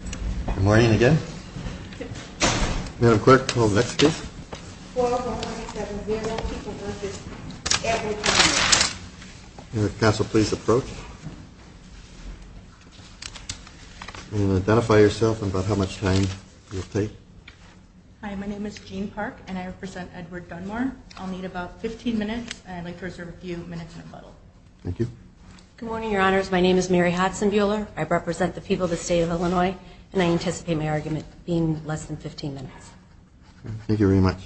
Good morning again. Madam Clerk, we'll go to the next case. Mayor of the Council, please approach. And identify yourself and about how much time you'll take. Hi, my name is Jean Park and I represent Edward Dunemore. I'll need about 15 minutes and I'd like to reserve a few minutes in rebuttal. Thank you. Good morning, Your Honors. My name is Mary Hodson-Buehler. I represent the people of the State of Illinois and I anticipate my argument being less than 15 minutes. Thank you very much.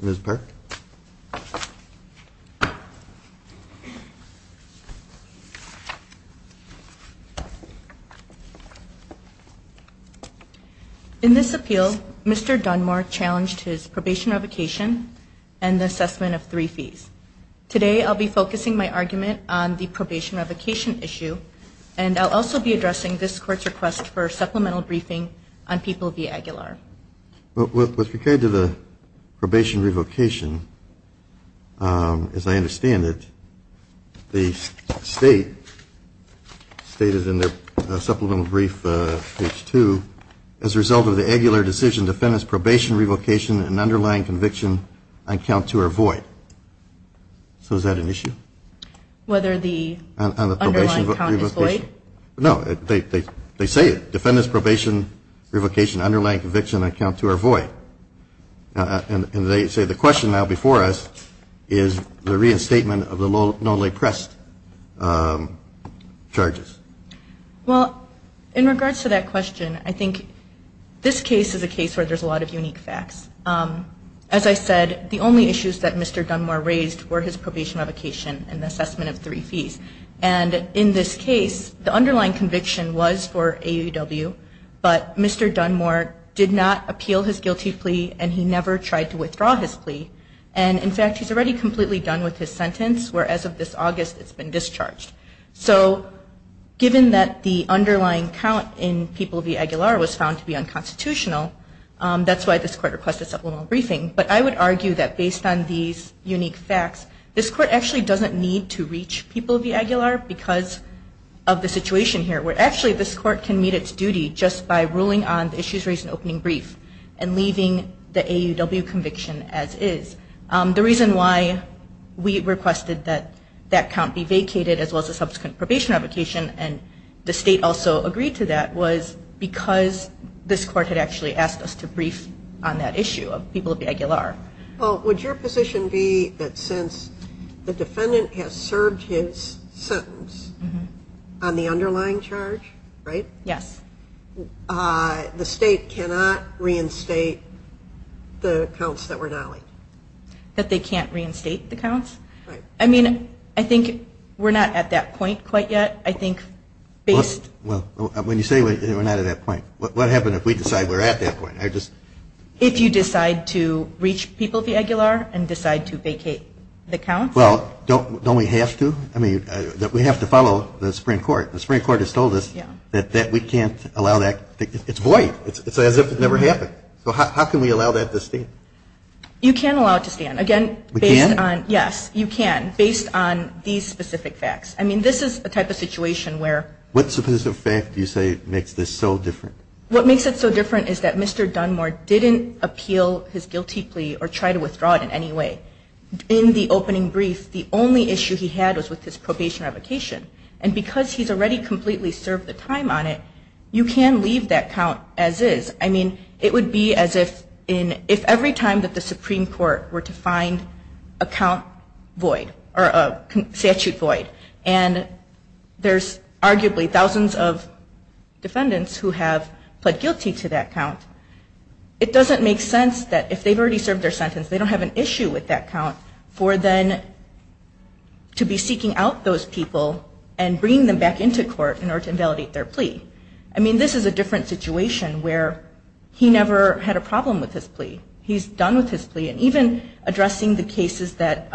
Ms. Park. In this appeal, Mr. Dunemore challenged his probation revocation and the assessment of three fees. Today, I'll be focusing my argument on the probation revocation issue. And I'll also be addressing this court's request for supplemental briefing on People v. Aguilar. With regard to the probation revocation, as I understand it, the State stated in their supplemental brief, page 2, as a result of the Aguilar decision, defendant's probation revocation and underlying conviction on count two are void. So is that an issue? Whether the underlying count is void? No, they say it. Defendant's probation revocation, underlying conviction on count two are void. And they say the question now before us is the reinstatement of the lowly pressed charges. Well, in regards to that question, I think this case is a case where there's a lot of unique facts. As I said, the only issues that Mr. Dunemore raised were his probation revocation and the assessment of three fees. And in this case, the underlying conviction was for AUW, but Mr. Dunemore did not appeal his guilty plea and he never tried to withdraw his plea. And in fact, he's already completely done with his sentence where as of this August, it's been discharged. So given that the underlying count in people v. Aguilar was found to be unconstitutional, that's why this Court requested supplemental briefing. But I would argue that based on these unique facts, this Court actually doesn't need to reach people v. Aguilar because of the situation here where actually this Court can meet its duty just by ruling on the issues raised in opening brief and leaving the AUW conviction as is. The reason why we requested that that count be vacated as well as the subsequent probation revocation and the state also agreed to that was because this Court had actually asked us to brief on that issue of people v. Aguilar. Well, would your position be that since the defendant has served his sentence on the underlying charge, right? Yes. The state cannot reinstate the counts that were dollied? That they can't reinstate the counts? Right. I mean, I think we're not at that point quite yet. I think based... Well, when you say we're not at that point, what happens if we decide we're at that point? If you decide to reach people v. Aguilar and decide to vacate the counts? Well, don't we have to? I mean, we have to follow the Supreme Court. The Supreme Court has told us that we can't allow that. It's void. It's as if it never happened. So how can we allow that to stand? You can allow it to stand. Again, based on... We can? Yes, you can, based on these specific facts. I mean, this is the type of situation where... What specific fact do you say makes this so different? What makes it so different is that Mr. Dunmore didn't appeal his guilty plea or try to withdraw it in any way. In the opening brief, the only issue he had was with his probation revocation. And because he's already completely served the time on it, you can leave that count as is. I mean, it would be as if every time that the Supreme Court were to find a count void or a statute void and there's arguably thousands of defendants who have pled guilty to that count, it doesn't make sense that if they've already served their sentence, they don't have an issue with that count for them to be seeking out those people and bringing them back into court in order to invalidate their plea. I mean, this is a different situation where he never had a problem with his plea. He's done with his plea. And even addressing the cases that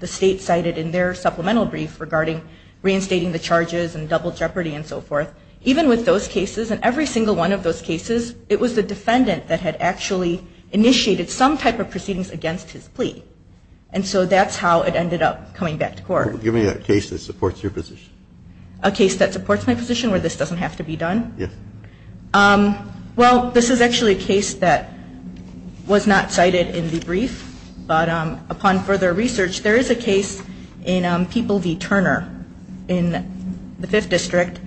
the state cited in their supplemental brief regarding reinstating the charges and double jeopardy and so forth, even with those cases and every single one of those cases, it was the defendant that had actually initiated some type of proceedings against his plea. And so that's how it ended up coming back to court. Give me a case that supports your position. A case that supports my position where this doesn't have to be done? Yes. Well, this is actually a case that was not cited in the brief. But upon further research, there is a case in People v. Turner in the Fifth District.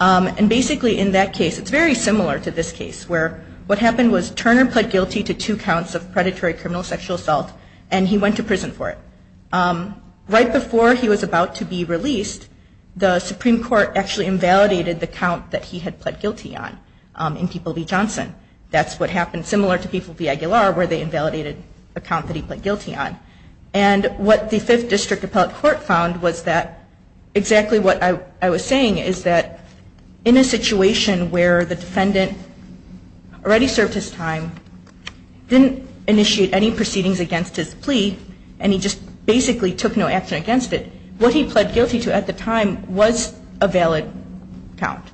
And basically in that case, it's very similar to this case, where what happened was Turner pled guilty to two counts of predatory criminal sexual assault, and he went to prison for it. Right before he was about to be released, the Supreme Court actually invalidated the count that he had pled guilty on in People v. Johnson. That's what happened, similar to People v. Aguilar, where they invalidated the count that he pled guilty on. And what the Fifth District Appellate Court found was that exactly what I was saying is that in a situation where the defendant already served his time, didn't initiate any proceedings against his plea, and he just basically took no action against it, what he pled guilty to at the time was a valid count.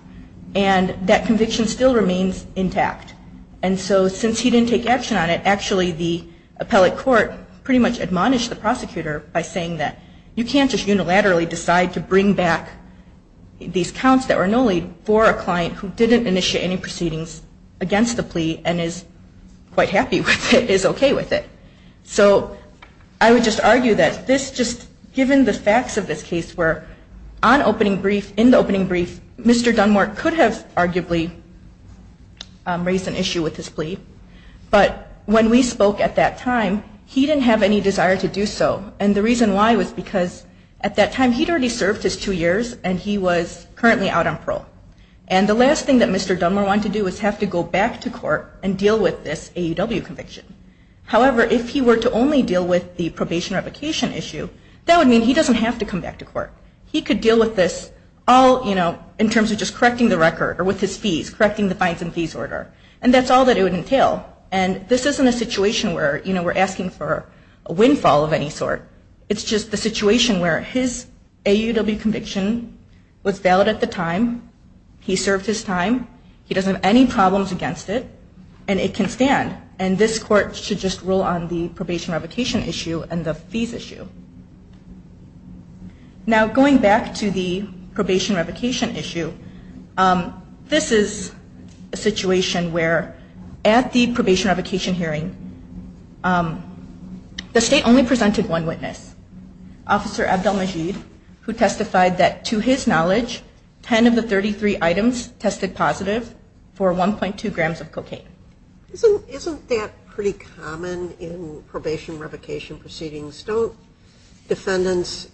And that conviction still remains intact. And so since he didn't take action on it, actually the Appellate Court pretty much admonished the prosecutor by saying that you can't just unilaterally decide to bring back these counts that were no lead for a client who didn't initiate any proceedings against the plea and is quite happy with it, is okay with it. So I would just argue that this, just given the facts of this case, where on opening brief, in the opening brief, Mr. Dunmore could have arguably raised an issue with his plea, but when we spoke at that time, he didn't have any desire to do so. And the reason why was because at that time he'd already served his two years and he was currently out on parole. And the last thing that Mr. Dunmore wanted to do was have to go back to court and deal with this AUW conviction. However, if he were to only deal with the probation revocation issue, that would mean he doesn't have to come back to court. He could deal with this all, you know, in terms of just correcting the record or with his fees, correcting the fines and fees order. And that's all that it would entail. And this isn't a situation where, you know, we're asking for a windfall of any sort. It's just the situation where his AUW conviction was valid at the time, he served his time, he doesn't have any problems against it, and it can stand. And this court should just rule on the probation revocation issue and the fees issue. Now, going back to the probation revocation issue, this is a situation where at the probation revocation hearing, the state only presented one witness, Officer Abdel-Majid, who testified that to his knowledge 10 of the 33 items tested positive for 1.2 grams of cocaine. Isn't that pretty common in probation revocation proceedings? Don't defendants,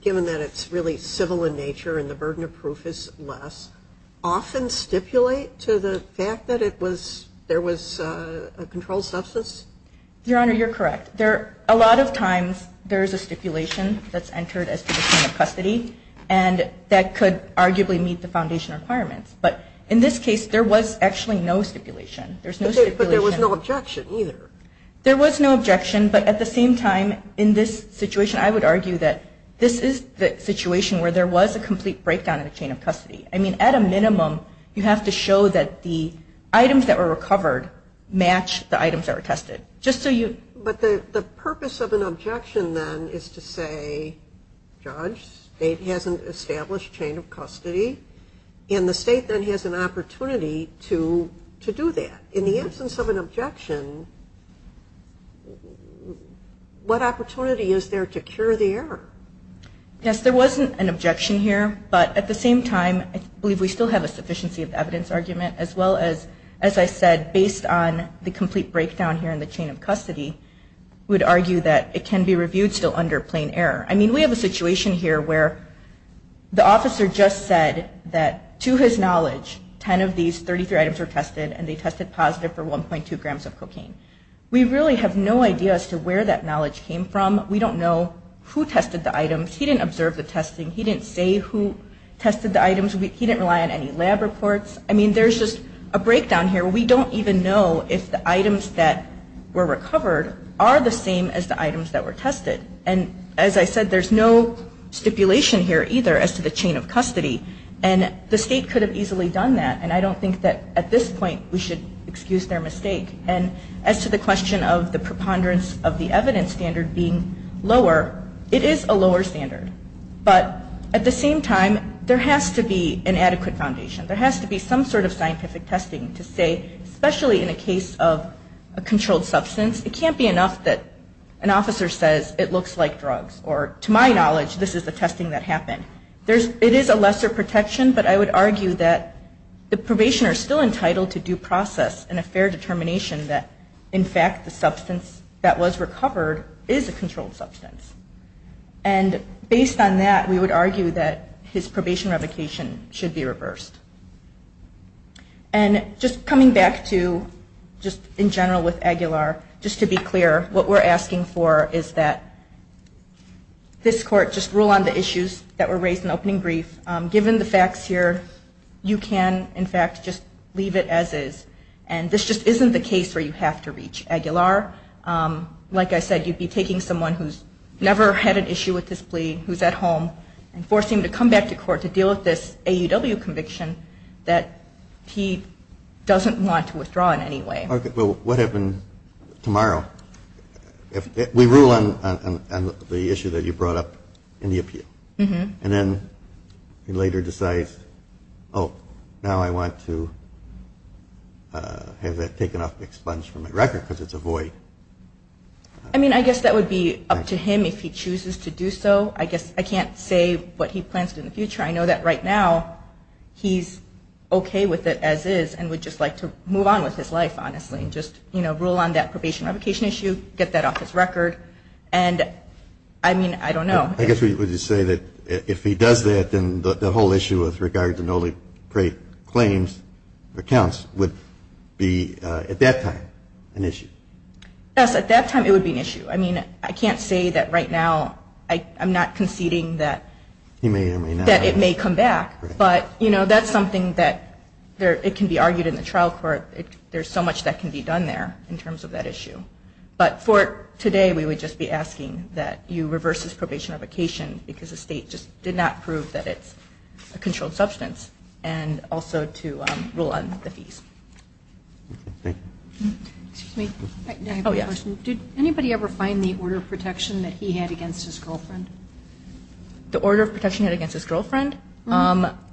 given that it's really civil in nature and the burden of proof is less, often stipulate to the fact that there was a controlled substance? Your Honor, you're correct. A lot of times there's a stipulation that's entered as to the point of custody and that could arguably meet the foundation requirements. But in this case, there was actually no stipulation. There's no stipulation. But there was no objection either. There was no objection. But at the same time, in this situation, I would argue that this is the situation where there was a complete breakdown in the chain of custody. I mean, at a minimum, you have to show that the items that were recovered match the items that were tested. But the purpose of an objection then is to say, Judge, state hasn't established chain of custody, and the state then has an opportunity to do that. In the absence of an objection, what opportunity is there to cure the error? Yes, there was an objection here. But at the same time, I believe we still have a sufficiency of evidence argument, as well as, as I said, based on the complete breakdown here in the chain of custody, we would argue that it can be reviewed still under plain error. I mean, we have a situation here where the officer just said that, to his knowledge, 10 of these 33 items were tested, and they tested positive for 1.2 grams of cocaine. We really have no idea as to where that knowledge came from. We don't know who tested the items. He didn't observe the testing. He didn't say who tested the items. He didn't rely on any lab reports. I mean, there's just a breakdown here. We don't even know if the items that were recovered are the same as the items that were tested. And as I said, there's no stipulation here either as to the chain of custody. And the state could have easily done that, and I don't think that at this point we should excuse their mistake. And as to the question of the preponderance of the evidence standard being lower, it is a lower standard. But at the same time, there has to be an adequate foundation. There has to be some sort of scientific testing to say, especially in a case of a controlled substance, it can't be enough that an officer says it looks like drugs, or to my knowledge, this is the testing that happened. It is a lesser protection, but I would argue that the probationers are still entitled to due process and a fair determination that, in fact, the substance that was recovered is a controlled substance. And based on that, we would argue that his probation revocation should be reversed. And just coming back to just in general with Aguilar, just to be clear, what we're asking for is that this court just rule on the issues that were raised in the opening brief. Given the facts here, you can, in fact, just leave it as is. And this just isn't the case where you have to reach Aguilar. Like I said, you'd be taking someone who's never had an issue with this plea, who's at home, and forcing him to come back to court to deal with this AUW conviction that he doesn't want to withdraw in any way. Okay. Well, what happened tomorrow? We rule on the issue that you brought up in the appeal. And then he later decides, oh, now I want to have that taken off the expunge from the record, because it's a void. I mean, I guess that would be up to him if he chooses to do so. I guess I can't say what he plans to do in the future. I know that right now he's okay with it as is and would just like to move on with his life, honestly, and just rule on that probation revocation issue, get that off his record. And, I mean, I don't know. I guess we would just say that if he does that, then the whole issue with regard to noly-prate claims or counts would be, at that time, an issue. Yes, at that time it would be an issue. I mean, I can't say that right now I'm not conceding that it may come back. But, you know, that's something that can be argued in the trial court. There's so much that can be done there in terms of that issue. But for today we would just be asking that you reverse his probation revocation because the state just did not prove that it's a controlled substance and also to rule on the fees. Thank you. Excuse me. Oh, yes. Did anybody ever find the order of protection that he had against his girlfriend? The order of protection he had against his girlfriend?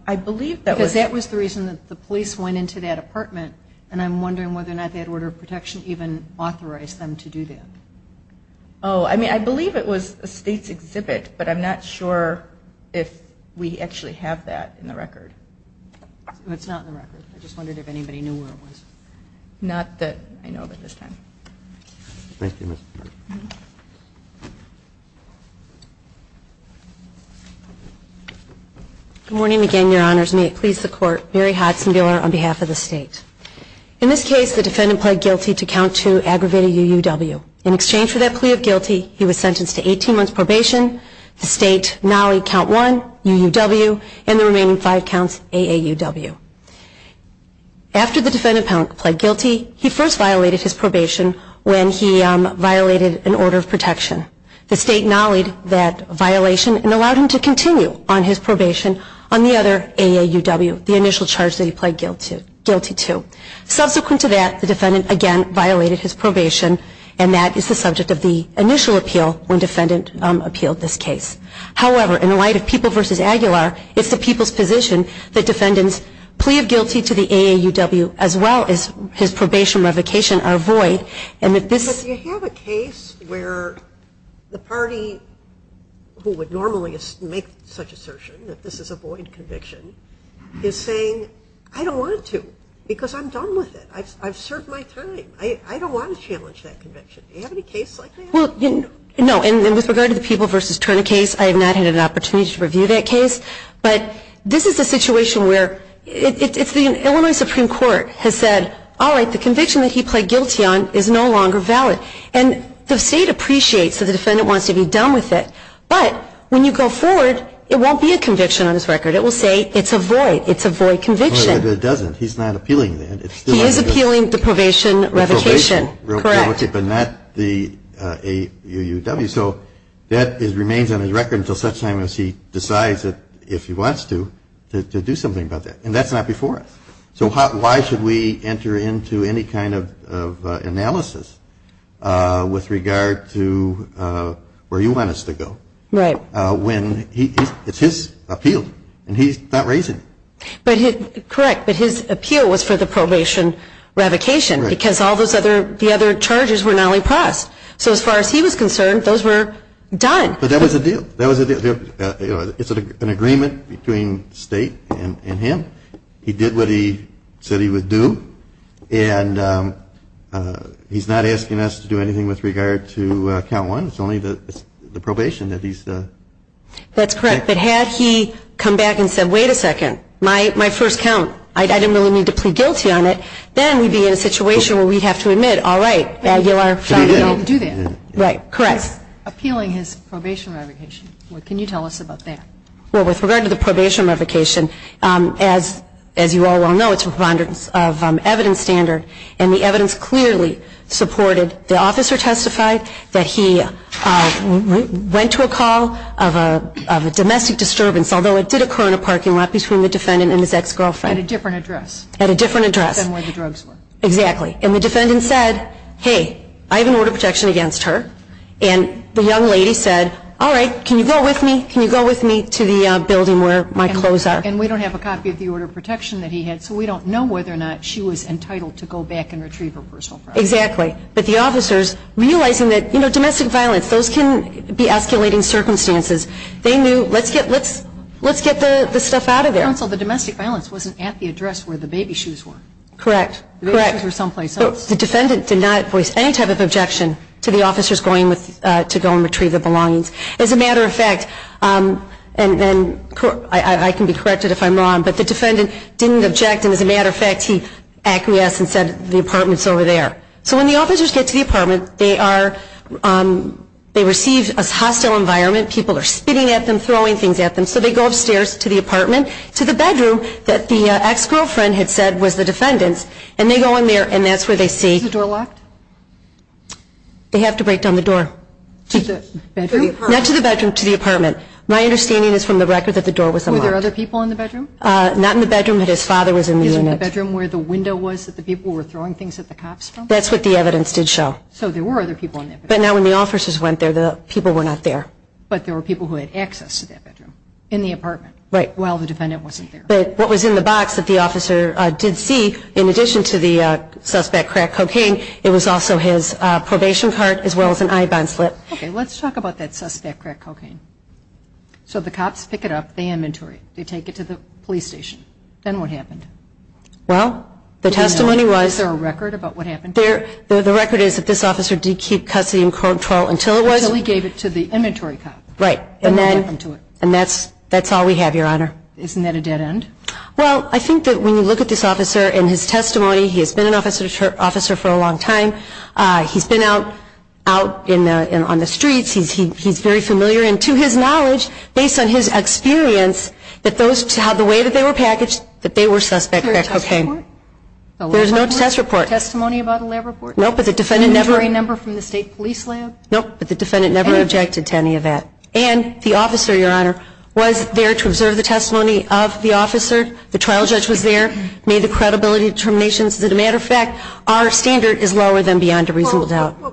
I believe that was. Because that was the reason that the police went into that apartment, and I'm wondering whether or not they had order of protection even authorized them to do that. Oh, I mean, I believe it was a state's exhibit, but I'm not sure if we actually have that in the record. It's not in the record. I just wondered if anybody knew where it was. Not that I know of at this time. Thank you. Good morning again, Your Honors. May it please the Court. Mary Hodson-Buehler on behalf of the state. In this case, the defendant pled guilty to count 2, aggravated UUW. In exchange for that plea of guilty, he was sentenced to 18 months' probation, the state NALI count 1, UUW, and the remaining five counts, AAUW. After the defendant pled guilty, he first violated his probation when he violated an order of protection. The state NALI'd that violation and allowed him to continue on his probation on the other AAUW, the initial charge that he pled guilty to. Subsequent to that, the defendant again violated his probation, and that is the subject of the initial appeal when defendant appealed this case. However, in light of People v. Aguilar, it's the people's position that defendants' plea of guilty to the AAUW as well as his probation revocation are void. But you have a case where the party who would normally make such assertion that this is a void conviction is saying, I don't want to because I'm done with it. I've served my time. I don't want to challenge that conviction. Do you have any cases like that? No, and with regard to the People v. Turner case, I have not had an opportunity to review that case. But this is a situation where it's the Illinois Supreme Court has said, all right, the conviction that he pled guilty on is no longer valid. And the state appreciates that the defendant wants to be done with it. But when you go forward, it won't be a conviction on his record. It will say it's a void. It's a void conviction. But it doesn't. He's not appealing that. He is appealing the probation revocation. Correct. But not the AAUW. So that remains on his record until such time as he decides that, if he wants to, to do something about that. And that's not before us. So why should we enter into any kind of analysis with regard to where you want us to go? Right. When it's his appeal, and he's not raising it. Correct. But his appeal was for the probation revocation because all the other charges were not only passed. So as far as he was concerned, those were done. But that was a deal. That was a deal. It's an agreement between state and him. He did what he said he would do. And he's not asking us to do anything with regard to count one. It's only the probation that he's. That's correct. But had he come back and said, wait a second, my first count, I didn't really need to plead guilty on it, then we'd be in a situation where we'd have to admit, all right, I didn't do that. Right. Correct. Appealing his probation revocation. Can you tell us about that? Well, with regard to the probation revocation, as you all well know, it's a preponderance of evidence standard. And the evidence clearly supported the officer testified that he went to a call of a domestic disturbance, although it did occur in a parking lot between the defendant and his ex-girlfriend. At a different address. At a different address. Than where the drugs were. Exactly. And the defendant said, hey, I have an order of protection against her. And the young lady said, all right, can you go with me? Can you go with me to the building where my clothes are? And we don't have a copy of the order of protection that he had, so we don't know whether or not she was entitled to go back and retrieve her personal property. Exactly. But the officers, realizing that, you know, domestic violence, those can be escalating circumstances, they knew, let's get the stuff out of there. Counsel, the domestic violence wasn't at the address where the baby shoes were. Correct. The baby shoes were someplace else. The defendant did not voice any type of objection to the officers going to go and retrieve the belongings. As a matter of fact, and I can be corrected if I'm wrong, but the defendant didn't object, and as a matter of fact, he acquiesced and said the apartment's over there. So when the officers get to the apartment, they receive a hostile environment. People are spitting at them, throwing things at them. So they go upstairs to the apartment, to the bedroom that the ex-girlfriend had said was the defendant's, and they go in there and that's where they see. Is the door locked? They have to break down the door. To the bedroom? Not to the bedroom, to the apartment. My understanding is from the record that the door was unlocked. Were there other people in the bedroom? Not in the bedroom, but his father was in the unit. Isn't the bedroom where the window was that the people were throwing things at the cops from? That's what the evidence did show. So there were other people in that bedroom. But now when the officers went there, the people were not there. But there were people who had access to that bedroom in the apartment. Right. While the defendant wasn't there. But what was in the box that the officer did see, in addition to the suspect crack cocaine, it was also his probation card as well as an I-bond slip. Okay, let's talk about that suspect crack cocaine. So the cops pick it up, they inventory it, they take it to the police station. Then what happened? Well, the testimony was. Is there a record about what happened? The record is that this officer did keep custody and control until it was. Until he gave it to the inventory cop. Right. And then. And that's all we have, Your Honor. Isn't that a dead end? Well, I think that when you look at this officer and his testimony, he has been an officer for a long time. He's been out on the streets. He's very familiar. And to his knowledge, based on his experience, that the way that they were packaged, that they were suspect crack cocaine. Is there a test report? There's no test report. Testimony about a lab report? No, but the defendant never. Inventory number from the state police lab? No, but the defendant never objected to any of that. And the officer, Your Honor, was there to observe the testimony of the officer. The trial judge was there. Made the credibility determinations. As a matter of fact, our standard is lower than beyond a reasonable doubt. Well,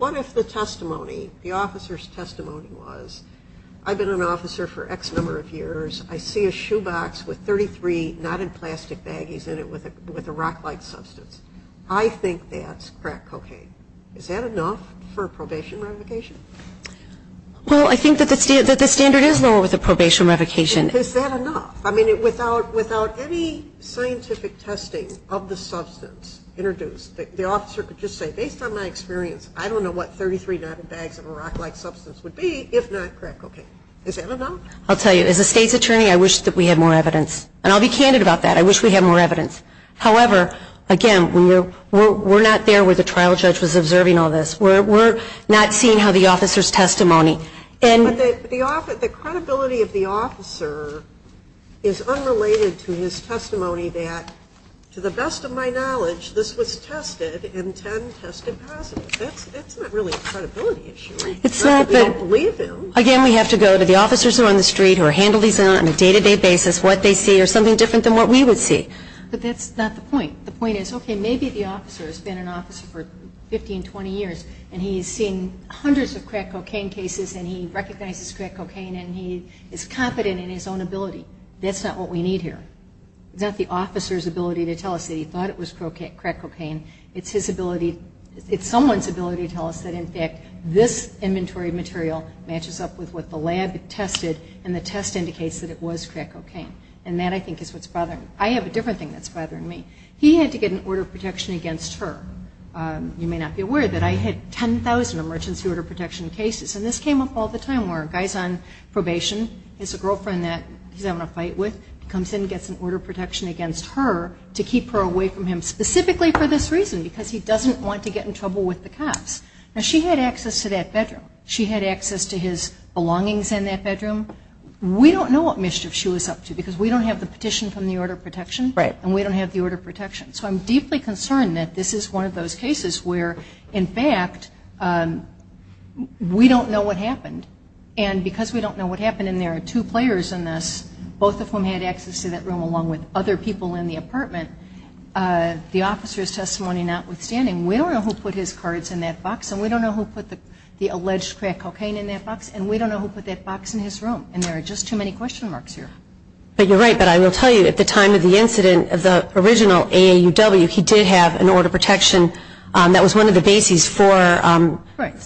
what if the testimony, the officer's testimony was, I've been an officer for X number of years. I see a shoebox with 33 knotted plastic baggies in it with a rock-like substance. I think that's crack cocaine. Is that enough for a probation revocation? Well, I think that the standard is lower with a probation revocation. Is that enough? I mean, without any scientific testing of the substance introduced, the officer could just say, based on my experience, I don't know what 33 knotted bags of a rock-like substance would be if not crack cocaine. Is that enough? I'll tell you, as a state's attorney, I wish that we had more evidence. And I'll be candid about that. I wish we had more evidence. However, again, we're not there where the trial judge was observing all this. We're not seeing how the officer's testimony. But the credibility of the officer is unrelated to his testimony that, to the best of my knowledge, this was tested and 10 tested positive. That's not really a credibility issue. It's not that we don't believe him. Again, we have to go to the officers who are on the street who handle these on a day-to-day basis, what they see, or something different than what we would see. But that's not the point. The point is, okay, maybe the officer has been an officer for 15, 20 years, and he has seen hundreds of crack cocaine cases, and he recognizes crack cocaine, and he is competent in his own ability. That's not what we need here. It's not the officer's ability to tell us that he thought it was crack cocaine. It's his ability, it's someone's ability to tell us that, in fact, this inventory of material matches up with what the lab tested, and the test indicates that it was crack cocaine. And that, I think, is what's bothering me. I have a different thing that's bothering me. He had to get an order of protection against her. You may not be aware that I had 10,000 emergency order of protection cases, and this came up all the time where a guy's on probation. He has a girlfriend that he's having a fight with. He comes in and gets an order of protection against her to keep her away from him, specifically for this reason, because he doesn't want to get in trouble with the cops. Now, she had access to that bedroom. She had access to his belongings in that bedroom. We don't know what mischief she was up to because we don't have the petition from the order of protection, and we don't have the order of protection. So I'm deeply concerned that this is one of those cases where, in fact, we don't know what happened. And because we don't know what happened, and there are two players in this, both of whom had access to that room along with other people in the apartment, the officer's testimony notwithstanding, we don't know who put his cards in that box, and we don't know who put the alleged crack cocaine in that box, and we don't know who put that box in his room. And there are just too many question marks here. But you're right. But I will tell you, at the time of the incident of the original AAUW, he did have an order of protection. That was one of the bases for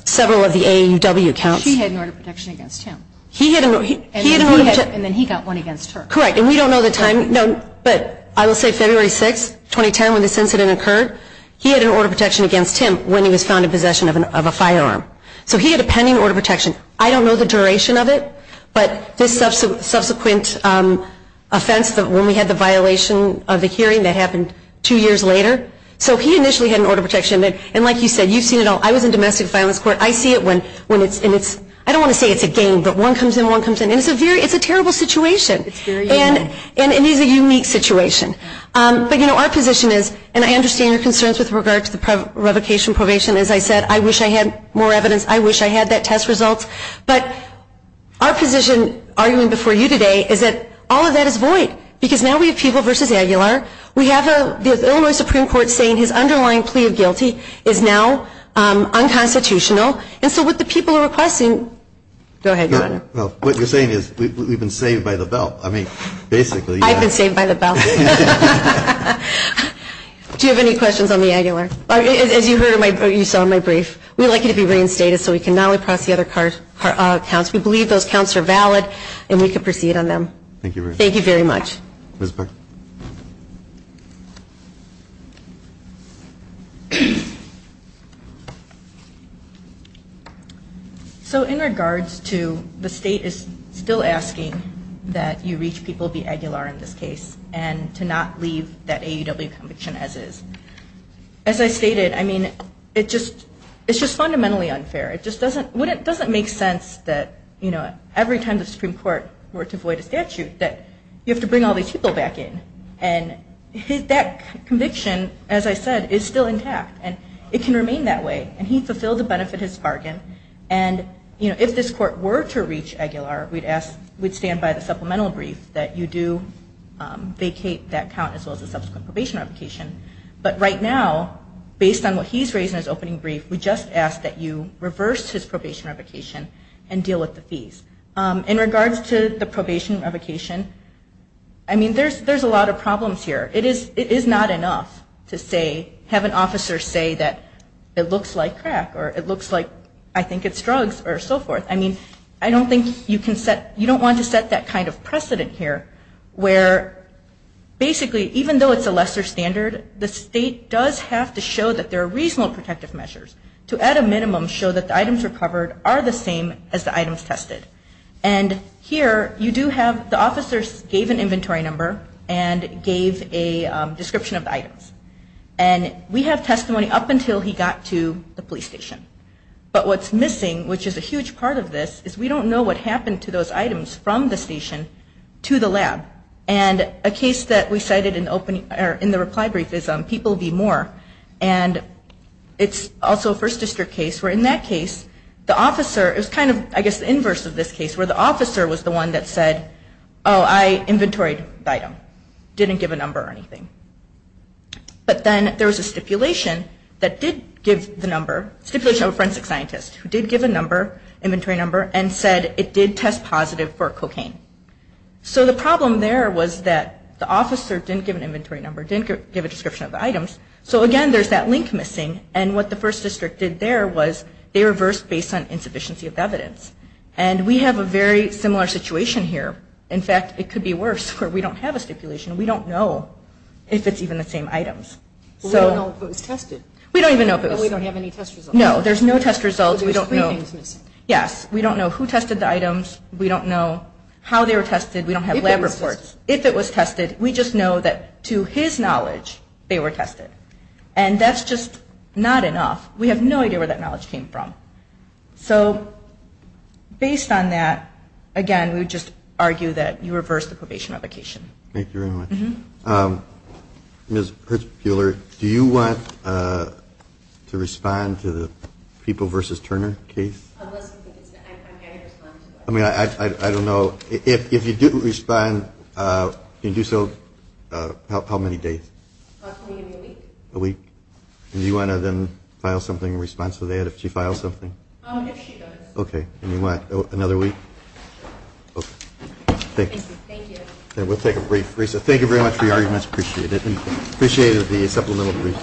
several of the AAUW counts. She had an order of protection against him. He had an order of protection. And then he got one against her. Correct. And we don't know the time. But I will say February 6, 2010, when this incident occurred, he had an order of protection against him when he was found in possession of a firearm. So he had a pending order of protection. I don't know the duration of it, but this subsequent offense, when we had the violation of the hearing that happened two years later, so he initially had an order of protection. And like you said, you've seen it all. I was in domestic violence court. I see it when it's ñ I don't want to say it's a game, but one comes in, one comes in. And it's a terrible situation. It's very unique. And it is a unique situation. But, you know, our position is, and I understand your concerns with regard to the revocation probation. As I said, I wish I had more evidence. I wish I had that test result. But our position arguing before you today is that all of that is void because now we have People v. Aguilar. We have the Illinois Supreme Court saying his underlying plea of guilty is now unconstitutional. And so what the people are requesting ñ go ahead, Your Honor. Well, what you're saying is we've been saved by the bell. I mean, basically. I've been saved by the bell. Do you have any questions on the Aguilar? As you saw in my brief, we'd like you to be reinstated so we can not only process the other counts. We believe those counts are valid and we can proceed on them. Thank you very much. Thank you very much. Ms. Burke. So in regards to the state is still asking that you reach People v. Aguilar in this case and to not leave that AUW conviction as is. As I stated, I mean, it's just fundamentally unfair. It just doesn't make sense that every time the Supreme Court were to void a statute that you have to bring all these people back in. And that conviction, as I said, is still intact. And it can remain that way. And he fulfilled the benefit of his bargain. And if this Court were to reach Aguilar, we'd stand by the supplemental brief that you do vacate that count as well as the subsequent probation application. But right now, based on what he's raised in his opening brief, we just ask that you reverse his probation revocation and deal with the fees. In regards to the probation revocation, I mean, there's a lot of problems here. It is not enough to say, have an officer say that it looks like crack or it looks like I think it's drugs or so forth. I mean, I don't think you can set you don't want to set that kind of precedent here where basically even though it's a lesser standard, the state does have to show that there are reasonable protective measures to at a minimum show that the items recovered are the same as the items tested. And here you do have the officers gave an inventory number and gave a description of the items. And we have testimony up until he got to the police station. But what's missing, which is a huge part of this, is we don't know what happened to those items from the station to the lab. And a case that we cited in the reply brief is People v. Moore. And it's also a First District case where in that case, the officer, it was kind of I guess the inverse of this case, where the officer was the one that said, oh, I inventoried the item, didn't give a number or anything. But then there was a stipulation that did give the number, a stipulation of a forensic scientist who did give a number, an inventory number, and said it did test positive for cocaine. So the problem there was that the officer didn't give an inventory number, didn't give a description of the items. So, again, there's that link missing. And what the First District did there was they reversed based on insufficiency of evidence. And we have a very similar situation here. In fact, it could be worse where we don't have a stipulation. We don't know if it's even the same items. We don't know if it was tested. We don't even know if it was. We don't have any test results. No, there's no test results. Yes, we don't know who tested the items. We don't know how they were tested. We don't have lab reports. If it was tested, we just know that, to his knowledge, they were tested. And that's just not enough. We have no idea where that knowledge came from. So based on that, again, we would just argue that you reversed the probation application. Thank you very much. Ms. Hertzbuehler, do you want to respond to the People v. Turner case? I mean, I don't know. If you do respond, can you do so how many days? Probably a week. A week? And do you want to then file something in response to that if she files something? If she does. Okay. And you want another week? Sure. Okay. Thank you. Okay. We'll take a brief recess. Thank you very much for your arguments. Appreciate it. And appreciate the supplemental brief.